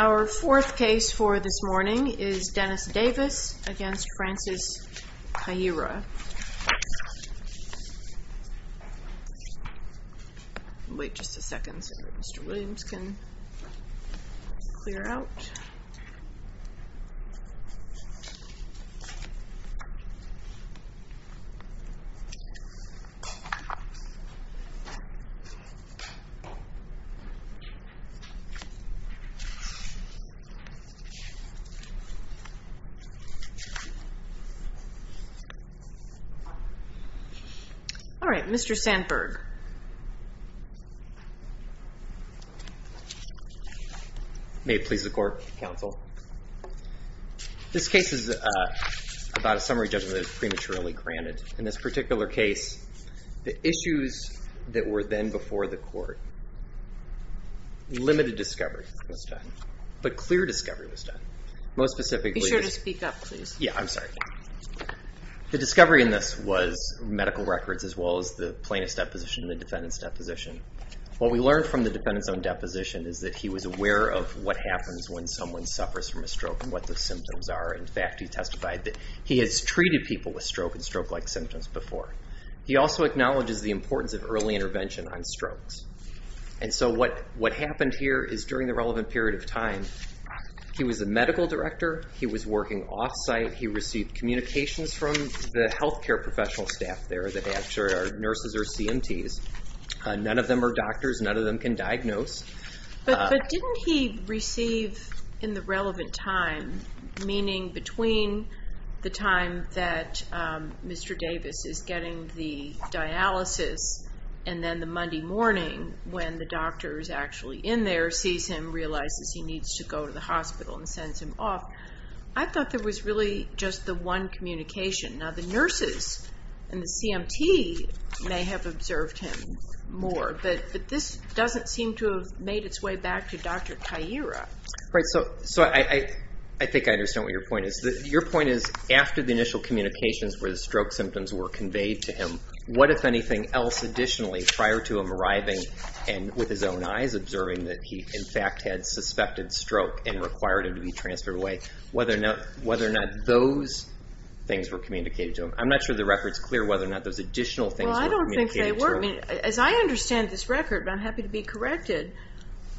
Our fourth case for this morning is Dennis Davis v. Francis Kayira All right, Mr. Sandberg May it please the Court, Counsel. This case is about a summary judgment that is prematurely granted. In this particular case, the issues that were then before the court, limited discovery, limited discovery, limited discovery, limited discovery, limited discovery, limited discovery, limited discovery, limited discovery, limited discovery. But clear discovery was done. Most specifically, the discovery in this was medical records as well as the plaintiff's deposition and the defendant's deposition. What we learned from the defendant's own deposition is that he was aware of what happens when someone suffers from a stroke and what the symptoms are. In fact, he testified that he has treated people with stroke and stroke-like symptoms before. He also acknowledges the importance of early intervention on strokes. And so what happened here is during the relevant period of time, he was a medical director, he was working off-site, he received communications from the healthcare professional staff there that actually are nurses or CMTs. None of them are doctors, none of them can diagnose. But didn't he receive in the relevant time, meaning between the time that Mr. Davis is getting the dialysis and then the Monday morning when the doctor is actually in there, sees him, realizes he needs to go to the hospital and sends him off. I thought there was really just the one communication. Now the nurses and the CMT may have observed him more, but this doesn't seem to have made its way back to Dr. Kaira. So I think I understand what your point is. Your point is after the initial communications where the stroke symptoms were conveyed to him, what if anything else additionally prior to him arriving and with his own eyes observing that he in fact had suspected stroke and required him to be transferred away, whether or not those things were communicated to him. Well I don't think they were. As I understand this record, I'm happy to be corrected,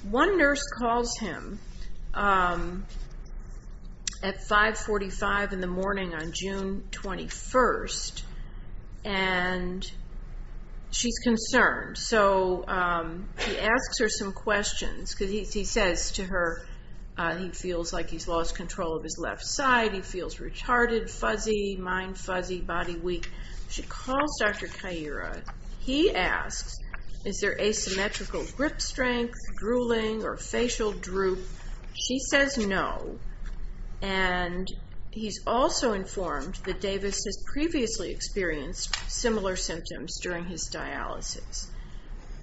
one nurse calls him at 545 in the morning on June 21st and she's concerned. So he asks her some questions. He says to her he feels like he's lost control of his left side, he feels retarded, fuzzy, mind fuzzy, body weak. She calls Dr. Kaira. He asks is there asymmetrical grip strength, drooling or facial droop. She says no. And he's also informed that Davis has previously experienced similar symptoms during his dialysis.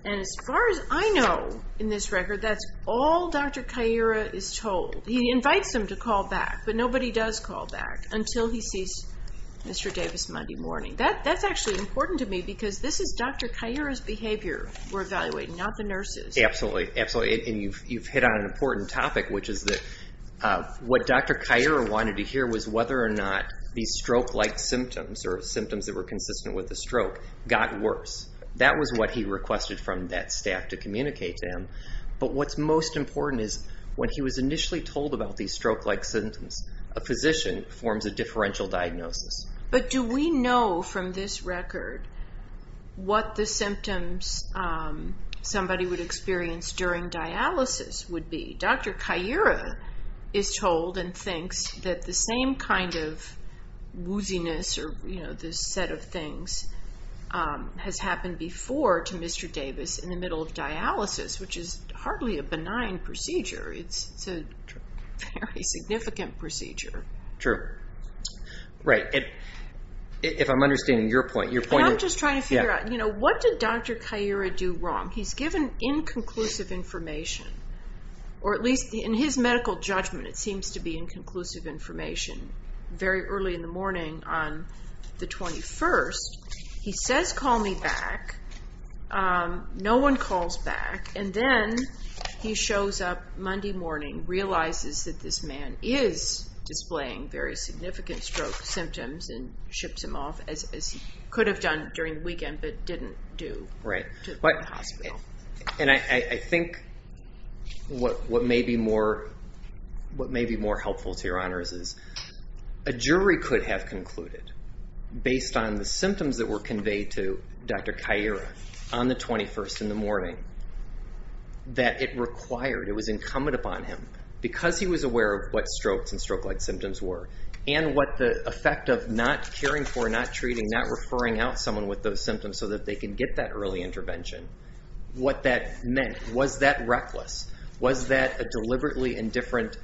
And as far as I know in this record, that's all Dr. Kaira is told. He invites him to call back, but nobody does call back until he sees Mr. Davis Monday morning. That's actually important to me because this is Dr. Kaira's behavior we're evaluating, not the nurses. Absolutely. And you've hit on an important topic, which is that what Dr. Kaira wanted to hear was whether or not these stroke-like symptoms or symptoms that were consistent with the stroke got worse. That was what he requested from that staff to communicate to him. But what's most important is when he was initially told about these stroke-like symptoms, a physician forms a differential diagnosis. But do we know from this record what the symptoms somebody would experience during dialysis would be? Dr. Kaira is told and thinks that the same kind of wooziness or this set of things has happened before to Mr. Davis in the middle of dialysis, which is hardly a benign procedure. It's a very significant procedure. True. Right. If I'm understanding your point, your point is... I'm just trying to figure out, what did Dr. Kaira do wrong? He's given inconclusive information, or at least in his medical judgment it seems to be inconclusive information, very early in the morning on the 21st. He says, call me back. No one calls back. And then he shows up Monday morning, realizes that this man is displaying very significant stroke symptoms and ships him off, as he could have done during the weekend but didn't do, to the hospital. And I think what may be more helpful to your honors is a jury could have concluded, based on the symptoms that were conveyed to Dr. Kaira on the 21st in the morning, that it required, it was incumbent upon him, because he was aware of what strokes and stroke-like symptoms were, and what the effect of not caring for, not treating, not referring out someone with those symptoms so that they can get that early intervention, what that meant. Was that reckless? Was that a deliberately indifferent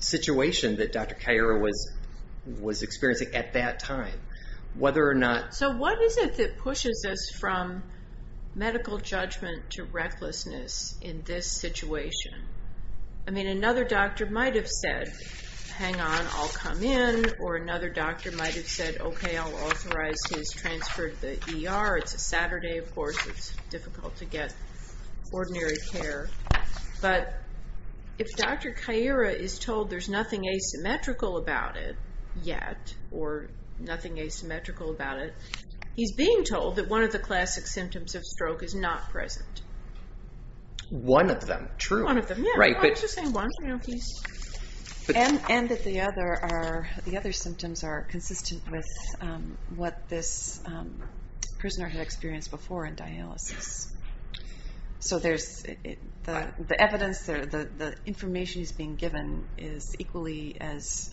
situation that Dr. Kaira was experiencing at that time? Whether or not... So what is it that pushes us from medical judgment to recklessness in this situation? I mean, another doctor might have said, hang on, I'll come in. Or another doctor might have said, okay, I'll authorize his transfer to the ER. It's a Saturday, of course, it's difficult to get ordinary care. But if Dr. Kaira is told there's nothing asymmetrical about it yet, or nothing asymmetrical about it, he's being told that one of the classic symptoms of stroke is not present. One of them, true. One of them, yeah. And that the other symptoms are consistent with what this prisoner had experienced before in dialysis. So there's the evidence, the information he's being given is equally as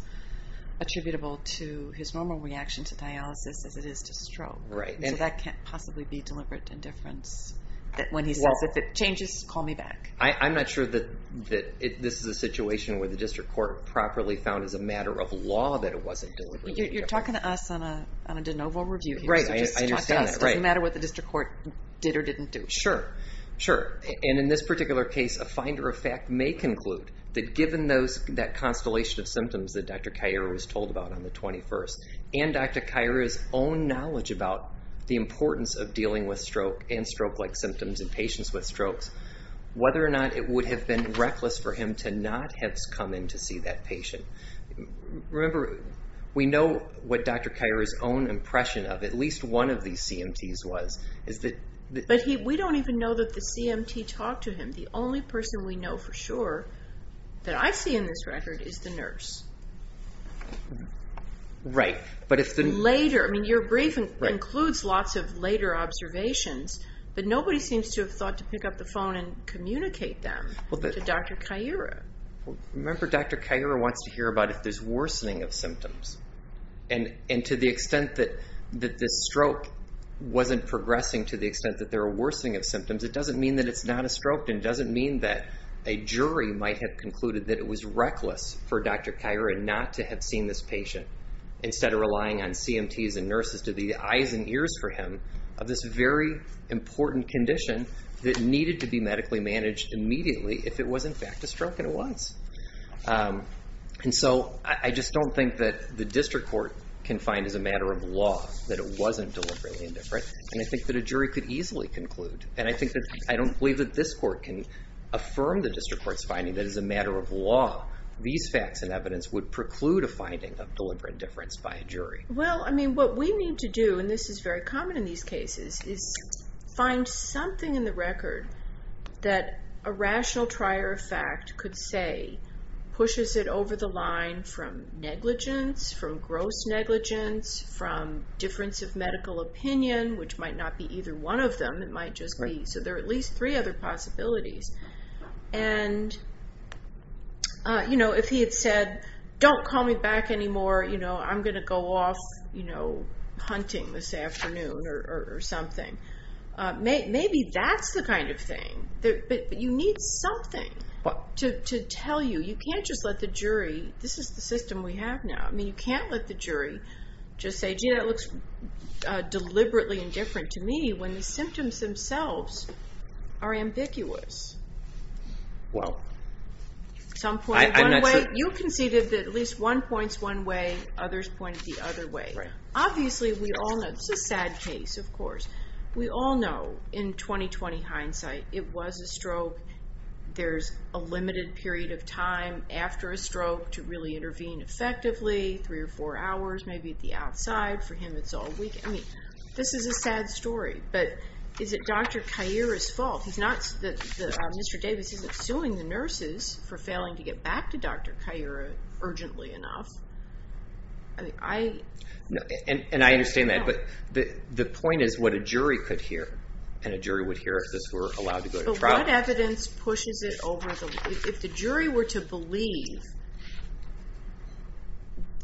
attributable to his normal reaction to dialysis as it is to stroke. Right. So that can't possibly be deliberate indifference when he says, if it changes, call me back. I'm not sure that this is a situation where the district court properly found as a matter of law that it wasn't deliberate indifference. You're talking to us on a de novo review here. Right, I understand that. So just talk to us. It doesn't matter what the district court did or didn't do. Sure. And in this particular case, a finder of fact may conclude that given that constellation of symptoms that Dr. Kaira was told about on the 21st, and Dr. Kaira's own knowledge about the importance of dealing with stroke and stroke-like symptoms in patients with strokes, whether or not it would have been reckless for him to not have come in to see that patient. Remember, we know what Dr. Kaira's own impression of at least one of these CMTs was. But we don't even know that the CMT talked to him. The only person we know for sure that I see in this record is the nurse. Right. Later. I mean, your briefing includes lots of later observations, but nobody seems to have thought to pick up the phone and communicate them to Dr. Kaira. Remember, Dr. Kaira wants to hear about if there's worsening of symptoms. And to the extent that this stroke wasn't progressing to the extent that there were worsening of symptoms, it doesn't mean that it's not a stroke. And it doesn't mean that a jury might have concluded that it was reckless for Dr. Kaira not to have seen this patient. Instead of relying on CMTs and nurses to be the eyes and ears for him of this very important condition that needed to be medically managed immediately if it was, in fact, a stroke. And it was. And so I just don't think that the district court can find as a matter of law that it wasn't deliberately indifferent. And I think that a jury could easily conclude. And I think that I don't believe that this court can affirm the district court's finding that as a matter of law, these facts and evidence would preclude a finding of deliberate indifference by a jury. Well, I mean, what we need to do, and this is very common in these cases, is find something in the record that a rational trier of fact could say pushes it over the line from negligence, from gross negligence, from difference of medical opinion, which might not be either one of them. It might just be. So there are at least three other possibilities. And, you know, if he had said, don't call me back anymore, you know, I'm going to go off, you know, hunting this afternoon or something, maybe that's the kind of thing that you need something to tell you. You can't just let the jury. This is the system we have now. I mean, you can't let the jury just say, gee, that looks deliberately indifferent to me when the symptoms themselves are ambiguous. Well, some point one way, you conceded that at least one points one way, others point the other way. Obviously, we all know it's a sad case, of course. We all know in 2020 hindsight, it was a stroke. There's a limited period of time after a stroke to really intervene effectively, three or four hours, maybe at the outside. For him, it's all weekend. This is a sad story. But is it Dr. Kaira's fault? He's not that Mr. Davis isn't suing the nurses for failing to get back to Dr. Kaira urgently enough. And I understand that, but the point is what a jury could hear and a jury would hear if this were allowed to go to trial. But what evidence pushes it over? If the jury were to believe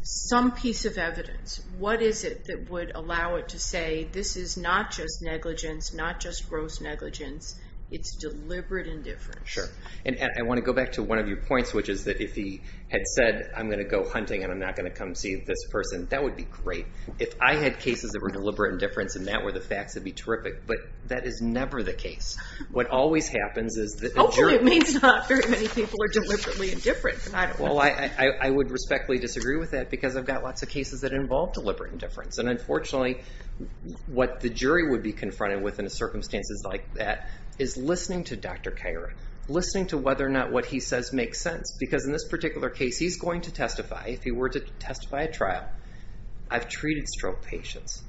some piece of evidence, what is it that would allow it to say this is not just negligence, not just gross negligence, it's deliberate indifference? Sure. And I want to go back to one of your points, which is that if he had said, I'm going to go hunting and I'm not going to come see this person, that would be great. If I had cases that were deliberate indifference and that were the facts, it'd be terrific. But that is never the case. What always happens is that the jury... Hopefully, it means not very many people are deliberately indifferent. Well, I would respectfully disagree with that because I've got lots of cases that involve deliberate indifference. And unfortunately, what the jury would be confronted with in circumstances like that is listening to Dr. Kaira, listening to whether or not what he says makes sense. Because in this particular case, he's going to testify. If he were to testify at trial, I've treated stroke patients.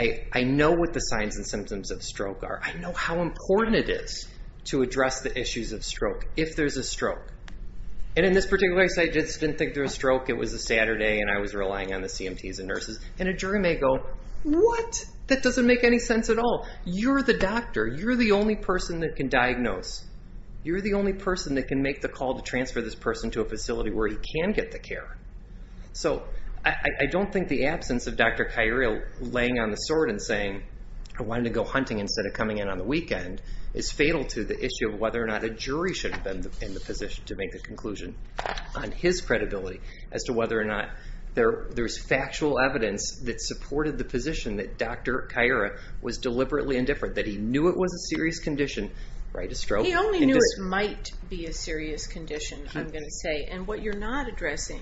I know what the signs and symptoms of stroke are. I know how important it is to address the issues of stroke if there's a stroke. And in this particular case, I just didn't think there was a stroke. It was a Saturday and I was relying on the CMTs and nurses. And a jury may go, what? That doesn't make any sense at all. You're the doctor. You're the only person that can diagnose. You're the only person that can make the call to transfer this person to a facility where he can get the care. So I don't think the absence of Dr. Kaira laying on the sword and saying, I wanted to go hunting instead of coming in on the weekend, is fatal to the issue of whether or not a jury should have been in the position to make the conclusion on his credibility as to whether or not there's factual evidence that supported the position that Dr. Kaira was deliberately indifferent, that he knew it was a serious condition. He only knew it might be a serious condition, I'm going to say. And what you're not addressing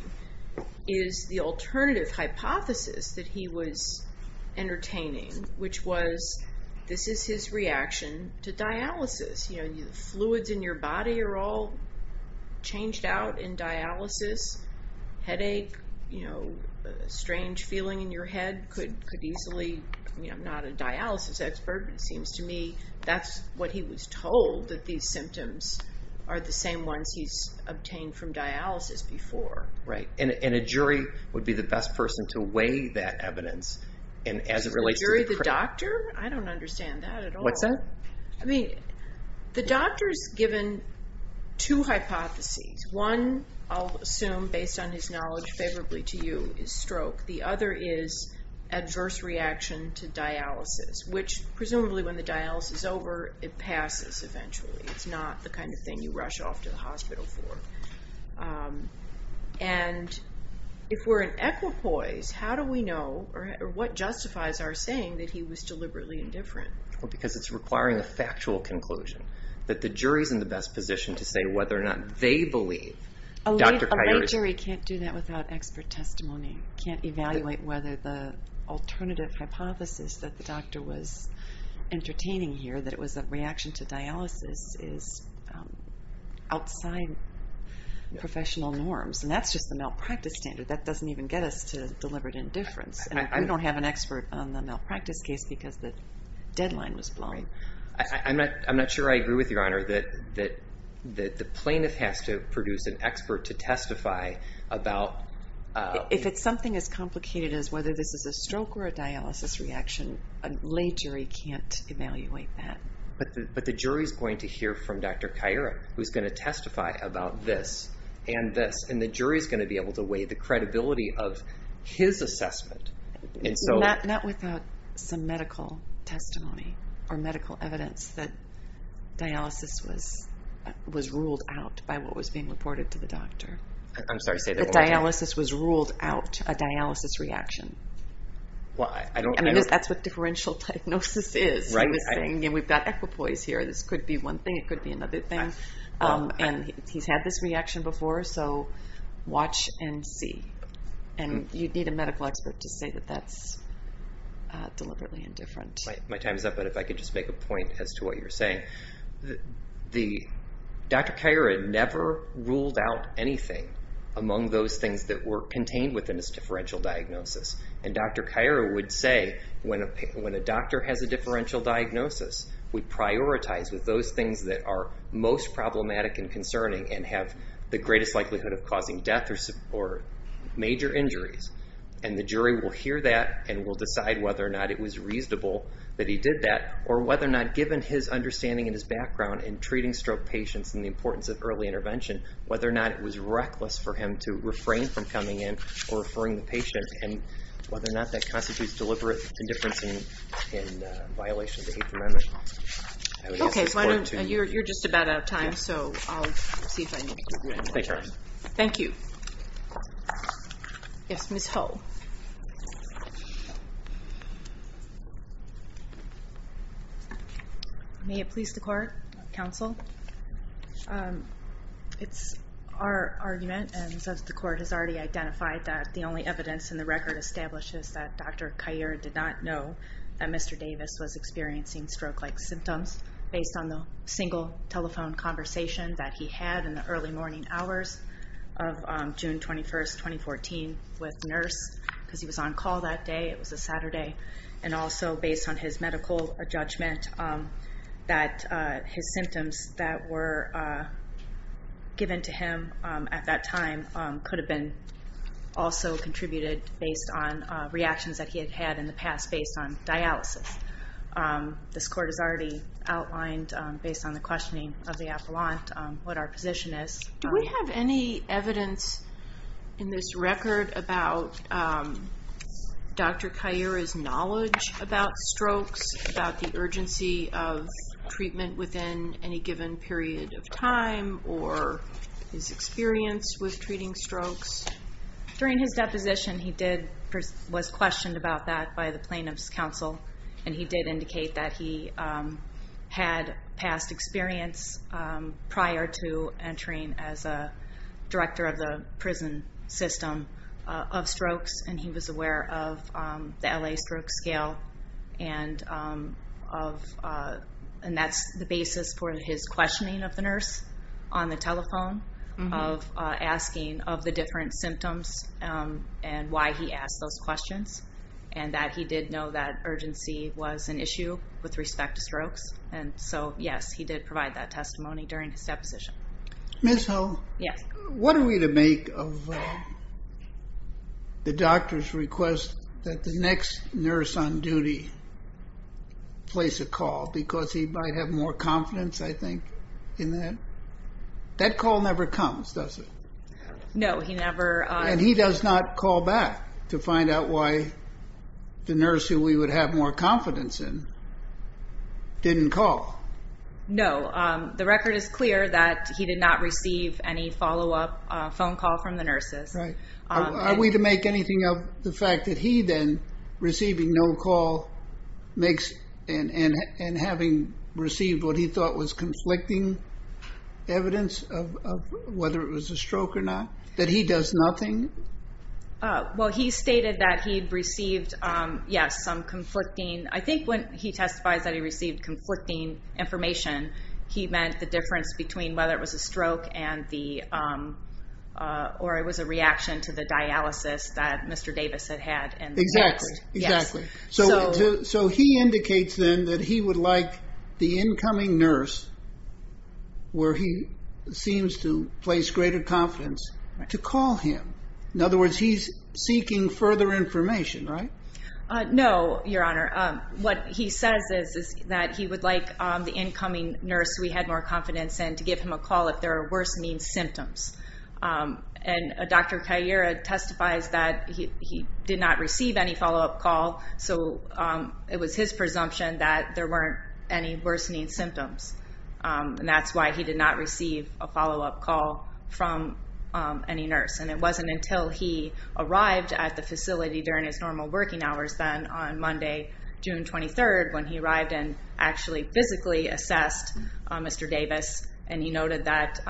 is the alternative hypothesis that he was entertaining, which was this is his reaction to dialysis. Fluids in your body are all changed out in dialysis. Headache, a strange feeling in your head could easily, I'm not a dialysis expert, but it seems to me that's what he was told, that these symptoms are the same ones he's obtained from dialysis before. Right. And a jury would be the best person to weigh that evidence. Is the jury the doctor? I don't understand that at all. What's that? I mean, the doctor's given two hypotheses. One, I'll assume based on his knowledge favorably to you, is stroke. The other is adverse reaction to dialysis, which presumably when the dialysis is over, it passes eventually. It's not the kind of thing you rush off to the hospital for. And if we're in equipoise, how do we know, or what justifies our saying that he was deliberately indifferent? Because it's requiring a factual conclusion, that the jury's in the best position to say whether or not they believe. A lay jury can't do that without expert testimony. Can't evaluate whether the alternative hypothesis that the doctor was entertaining here, that it was a reaction to dialysis, is outside professional norms. And that's just the malpractice standard. That doesn't even get us to deliberate indifference. We don't have an expert on the malpractice case because the deadline was blown. I'm not sure I agree with you, Your Honor, that the plaintiff has to produce an expert to testify about... If it's something as complicated as whether this is a stroke or a dialysis reaction, a lay jury can't evaluate that. But the jury's going to hear from Dr. Cairo, who's going to testify about this and this. And the jury's going to be able to weigh the credibility of his assessment. Not without some medical testimony or medical evidence that dialysis was ruled out by what was being reported to the doctor. I'm sorry, say that one more time. That dialysis was ruled out, a dialysis reaction. Well, I don't... I mean, that's what differential diagnosis is. Right. We've got equipoise here. This could be one thing, it could be another thing. And he's had this reaction before, so watch and see. And you'd need a medical expert to say that that's deliberately indifferent. My time's up, but if I could just make a point as to what you're saying. Dr. Cairo never ruled out anything among those things that were contained within his differential diagnosis. And Dr. Cairo would say, when a doctor has a differential diagnosis, we prioritize with those things that are most problematic and concerning and have the greatest likelihood of causing death or major injuries. And the jury will hear that and will decide whether or not it was reasonable that he did that or whether or not, given his understanding and his background in treating stroke patients and the importance of early intervention, whether or not it was reckless for him to refrain from coming in or referring the patient and whether or not that constitutes deliberate indifference in violation of the Eighth Amendment. Okay, so I know you're just about out of time, so I'll see if I need to go ahead one more time. Thank you. Yes, Ms. Ho. May it please the court, counsel? It's our argument, and since the court has already identified that, the only evidence in the record establishes that Dr. Cairo did not know that Mr. Davis was experiencing stroke-like symptoms based on the single telephone conversation that he had in the early morning hours of June 21st, 2014 with nurse, because he was on call that day. It was a Saturday. And also based on his medical judgment, that his symptoms that were given to him at that time could have been also contributed based on reactions that he had had in the past based on dialysis. This court has already outlined, based on the questioning of the appellant, what our position is. Do we have any evidence in this record about Dr. Cairo's knowledge about strokes, about the urgency of treatment within any given period of time, or his experience with treating strokes? During his deposition, he was questioned about that by the plaintiff's counsel, and he did indicate that he had past experience prior to entering as a director of the prison system of strokes, and he was aware of the LA Stroke Scale, and that's the basis for his questioning of the nurse on the telephone, of asking of the different symptoms and why he asked those questions, and that he did know that urgency was an issue with respect to strokes. And so, yes, he did provide that testimony during his deposition. Ms. Hull? Yes. What are we to make of the doctor's request that the next nurse on duty place a call, because he might have more confidence, I think, in that? That call never comes, does it? No, he never... And he does not call back to find out why the nurse who we would have more confidence in didn't call? No. The record is clear that he did not receive any follow-up phone call from the nurses. Right. Are we to make anything of the fact that he then, receiving no call, and having received what he thought was conflicting evidence of whether it was a stroke or not, that he does nothing? Well, he stated that he received, yes, some conflicting... I think when he testifies that he received conflicting information, he meant the difference between whether it was a stroke or it was a reaction to the dialysis that Mr. Davis had had. Exactly. Yes. So he would like the incoming nurse, where he seems to place greater confidence, to call him. In other words, he's seeking further information, right? No, Your Honor. What he says is that he would like the incoming nurse who he had more confidence in to give him a call if there were worse mean symptoms. And Dr. Kaira testifies that he did not receive any follow-up call, so it was his presumption that there weren't any worsening symptoms. And that's why he did not receive a follow-up call from any nurse. And it wasn't until he arrived at the facility during his normal working hours then, on Monday, June 23rd, when he arrived and actually physically assessed Mr. Davis, and he noted that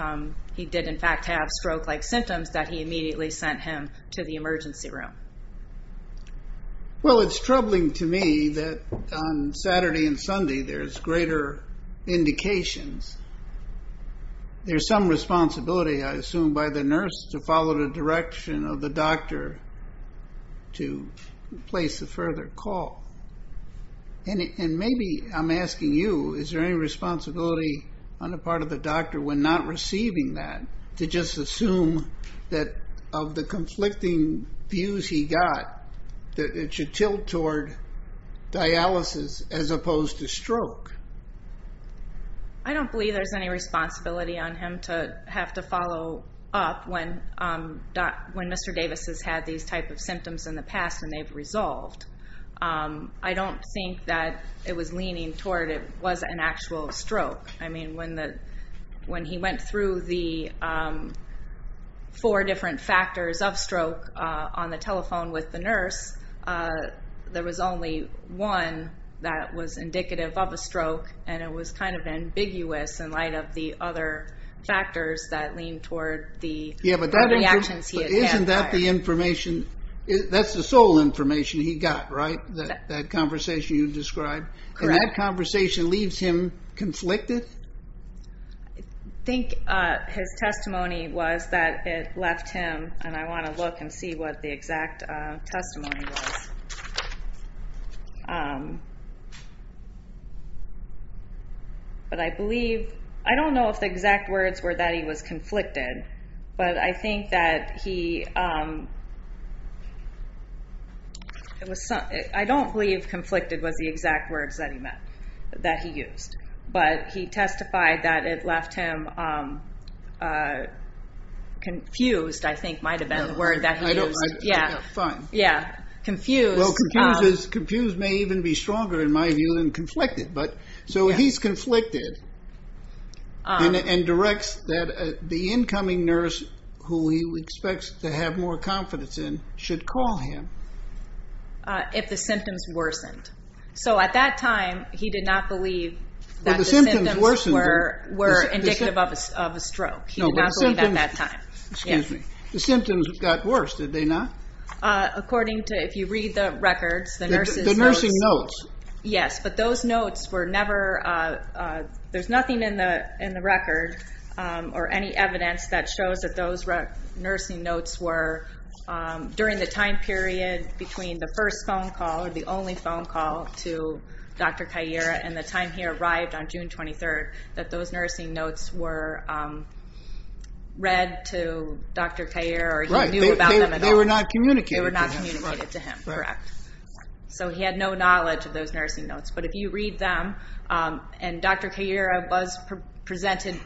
he did, in fact, have stroke-like symptoms, that he immediately sent him to the emergency room. Well, it's troubling to me that on Saturday and Sunday there's greater indications. There's some responsibility, I assume, by the nurse to follow the direction of the doctor to place a further call. And maybe I'm asking you, is there any responsibility on the part of the doctor when not receiving that to just assume that of the conflicting views he got that it should tilt toward dialysis as opposed to stroke? I don't believe there's any responsibility on him to have to follow up when Mr. Davis has had these type of symptoms in the past and they've resolved. I don't think that it was leaning toward it was an actual stroke. I mean, when he went through the four different factors of stroke on the telephone with the nurse, there was only one that was indicative of a stroke, and it was kind of ambiguous in light of the other factors that leaned toward the reactions he had had. But isn't that the information? That's the sole information he got, right, that conversation you described? Correct. And that conversation leaves him conflicted? I think his testimony was that it left him, and I want to look and see what the exact testimony was. But I believe, I don't know if the exact words were that he was conflicted, but I think that he, I don't believe conflicted was the exact words that he used, but he testified that it left him confused, I think might have been the word that he used. Yeah, fine. Yeah, confused. Well, confused may even be stronger, in my view, than conflicted. So he's conflicted and directs that the incoming nurse, who he expects to have more confidence in, should call him. If the symptoms worsened. So at that time, he did not believe that the symptoms were indicative of a stroke. He did not believe that at that time. The symptoms got worse, did they not? According to, if you read the records, the nurse's notes. The nursing notes. Yes, but those notes were never, there's nothing in the record, or any evidence that shows that those nursing notes were, during the time period between the first phone call, or the only phone call, to Dr. Caire, and the time he arrived on June 23rd, that those nursing notes were read to Dr. Caire, or he knew about them at all. Right, they were not communicated to him. They were not communicated to him, correct. So he had no knowledge of those nursing notes. But if you read them, and Dr. Caire was presented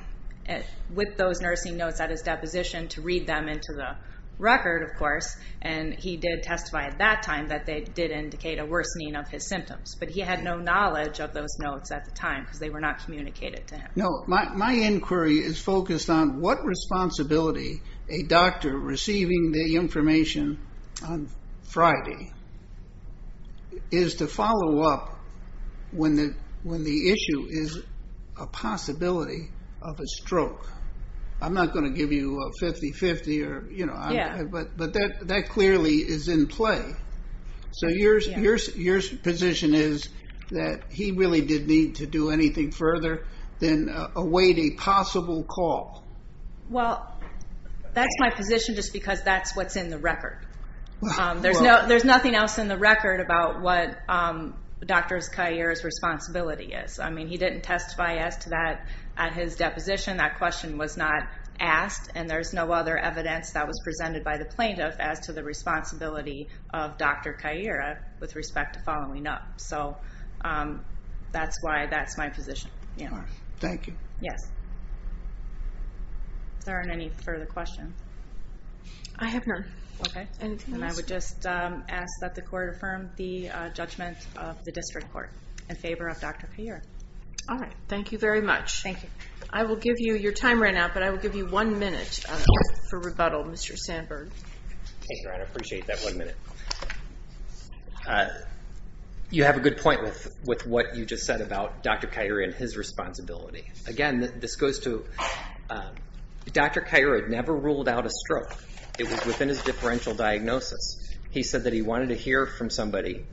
with those nursing notes at his deposition to read them into the record, of course, and he did testify at that time that they did indicate a worsening of his symptoms. But he had no knowledge of those notes at the time, because they were not communicated to him. No, my inquiry is focused on what responsibility a doctor receiving the information on Friday is to follow up when the issue is a possibility of a stroke. I'm not going to give you a 50-50, but that clearly is in play. So your position is that he really did need to do anything further than await a possible call. Well, that's my position just because that's what's in the record. There's nothing else in the record about what Dr. Caire's responsibility is. I mean, he didn't testify as to that at his deposition. That question was not asked, and there's no other evidence that was presented by the plaintiff as to the responsibility of Dr. Caire with respect to following up. So that's why that's my position. Thank you. Yes. Is there any further questions? I have none. Okay. And I would just ask that the Court affirm the judgment of the District Court in favor of Dr. Caire. All right. Thank you very much. Thank you. I will give you your time right now, but I will give you one minute for rebuttal, Mr. Sandberg. Thank you, Your Honor. I appreciate that one minute. You have a good point with what you just said about Dr. Caire and his responsibility. Again, this goes to Dr. Caire had never ruled out a stroke. It was within his differential diagnosis. He said that he wanted to hear from somebody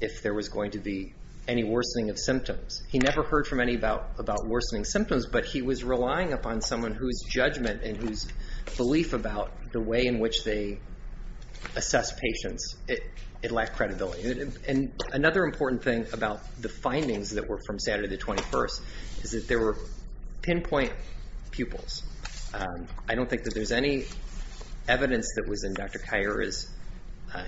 if there was going to be any worsening of symptoms. He never heard from anybody about worsening symptoms, but he was relying upon someone whose judgment and whose belief about the way in which they assess patients. It lacked credibility. And another important thing about the findings that were from Saturday the 21st is that there were pinpoint pupils. I don't think that there's any evidence that was in Dr. Caire's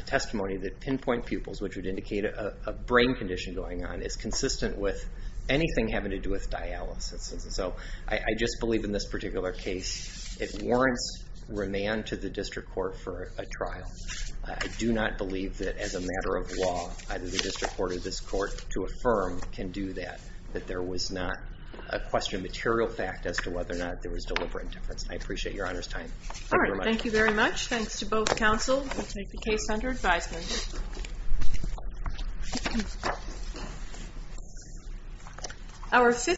testimony that pinpoint pupils, which would indicate a brain condition going on, is consistent with anything having to do with dialysis. So I just believe in this particular case it warrants remand to the district court for a trial. I do not believe that as a matter of law either the district court or this court to affirm can do that, that there was not a question of material fact as to whether or not there was deliberate indifference. I appreciate Your Honor's time. Thank you very much. All right. Thank you very much. Thanks to both counsel who take the case under advisement.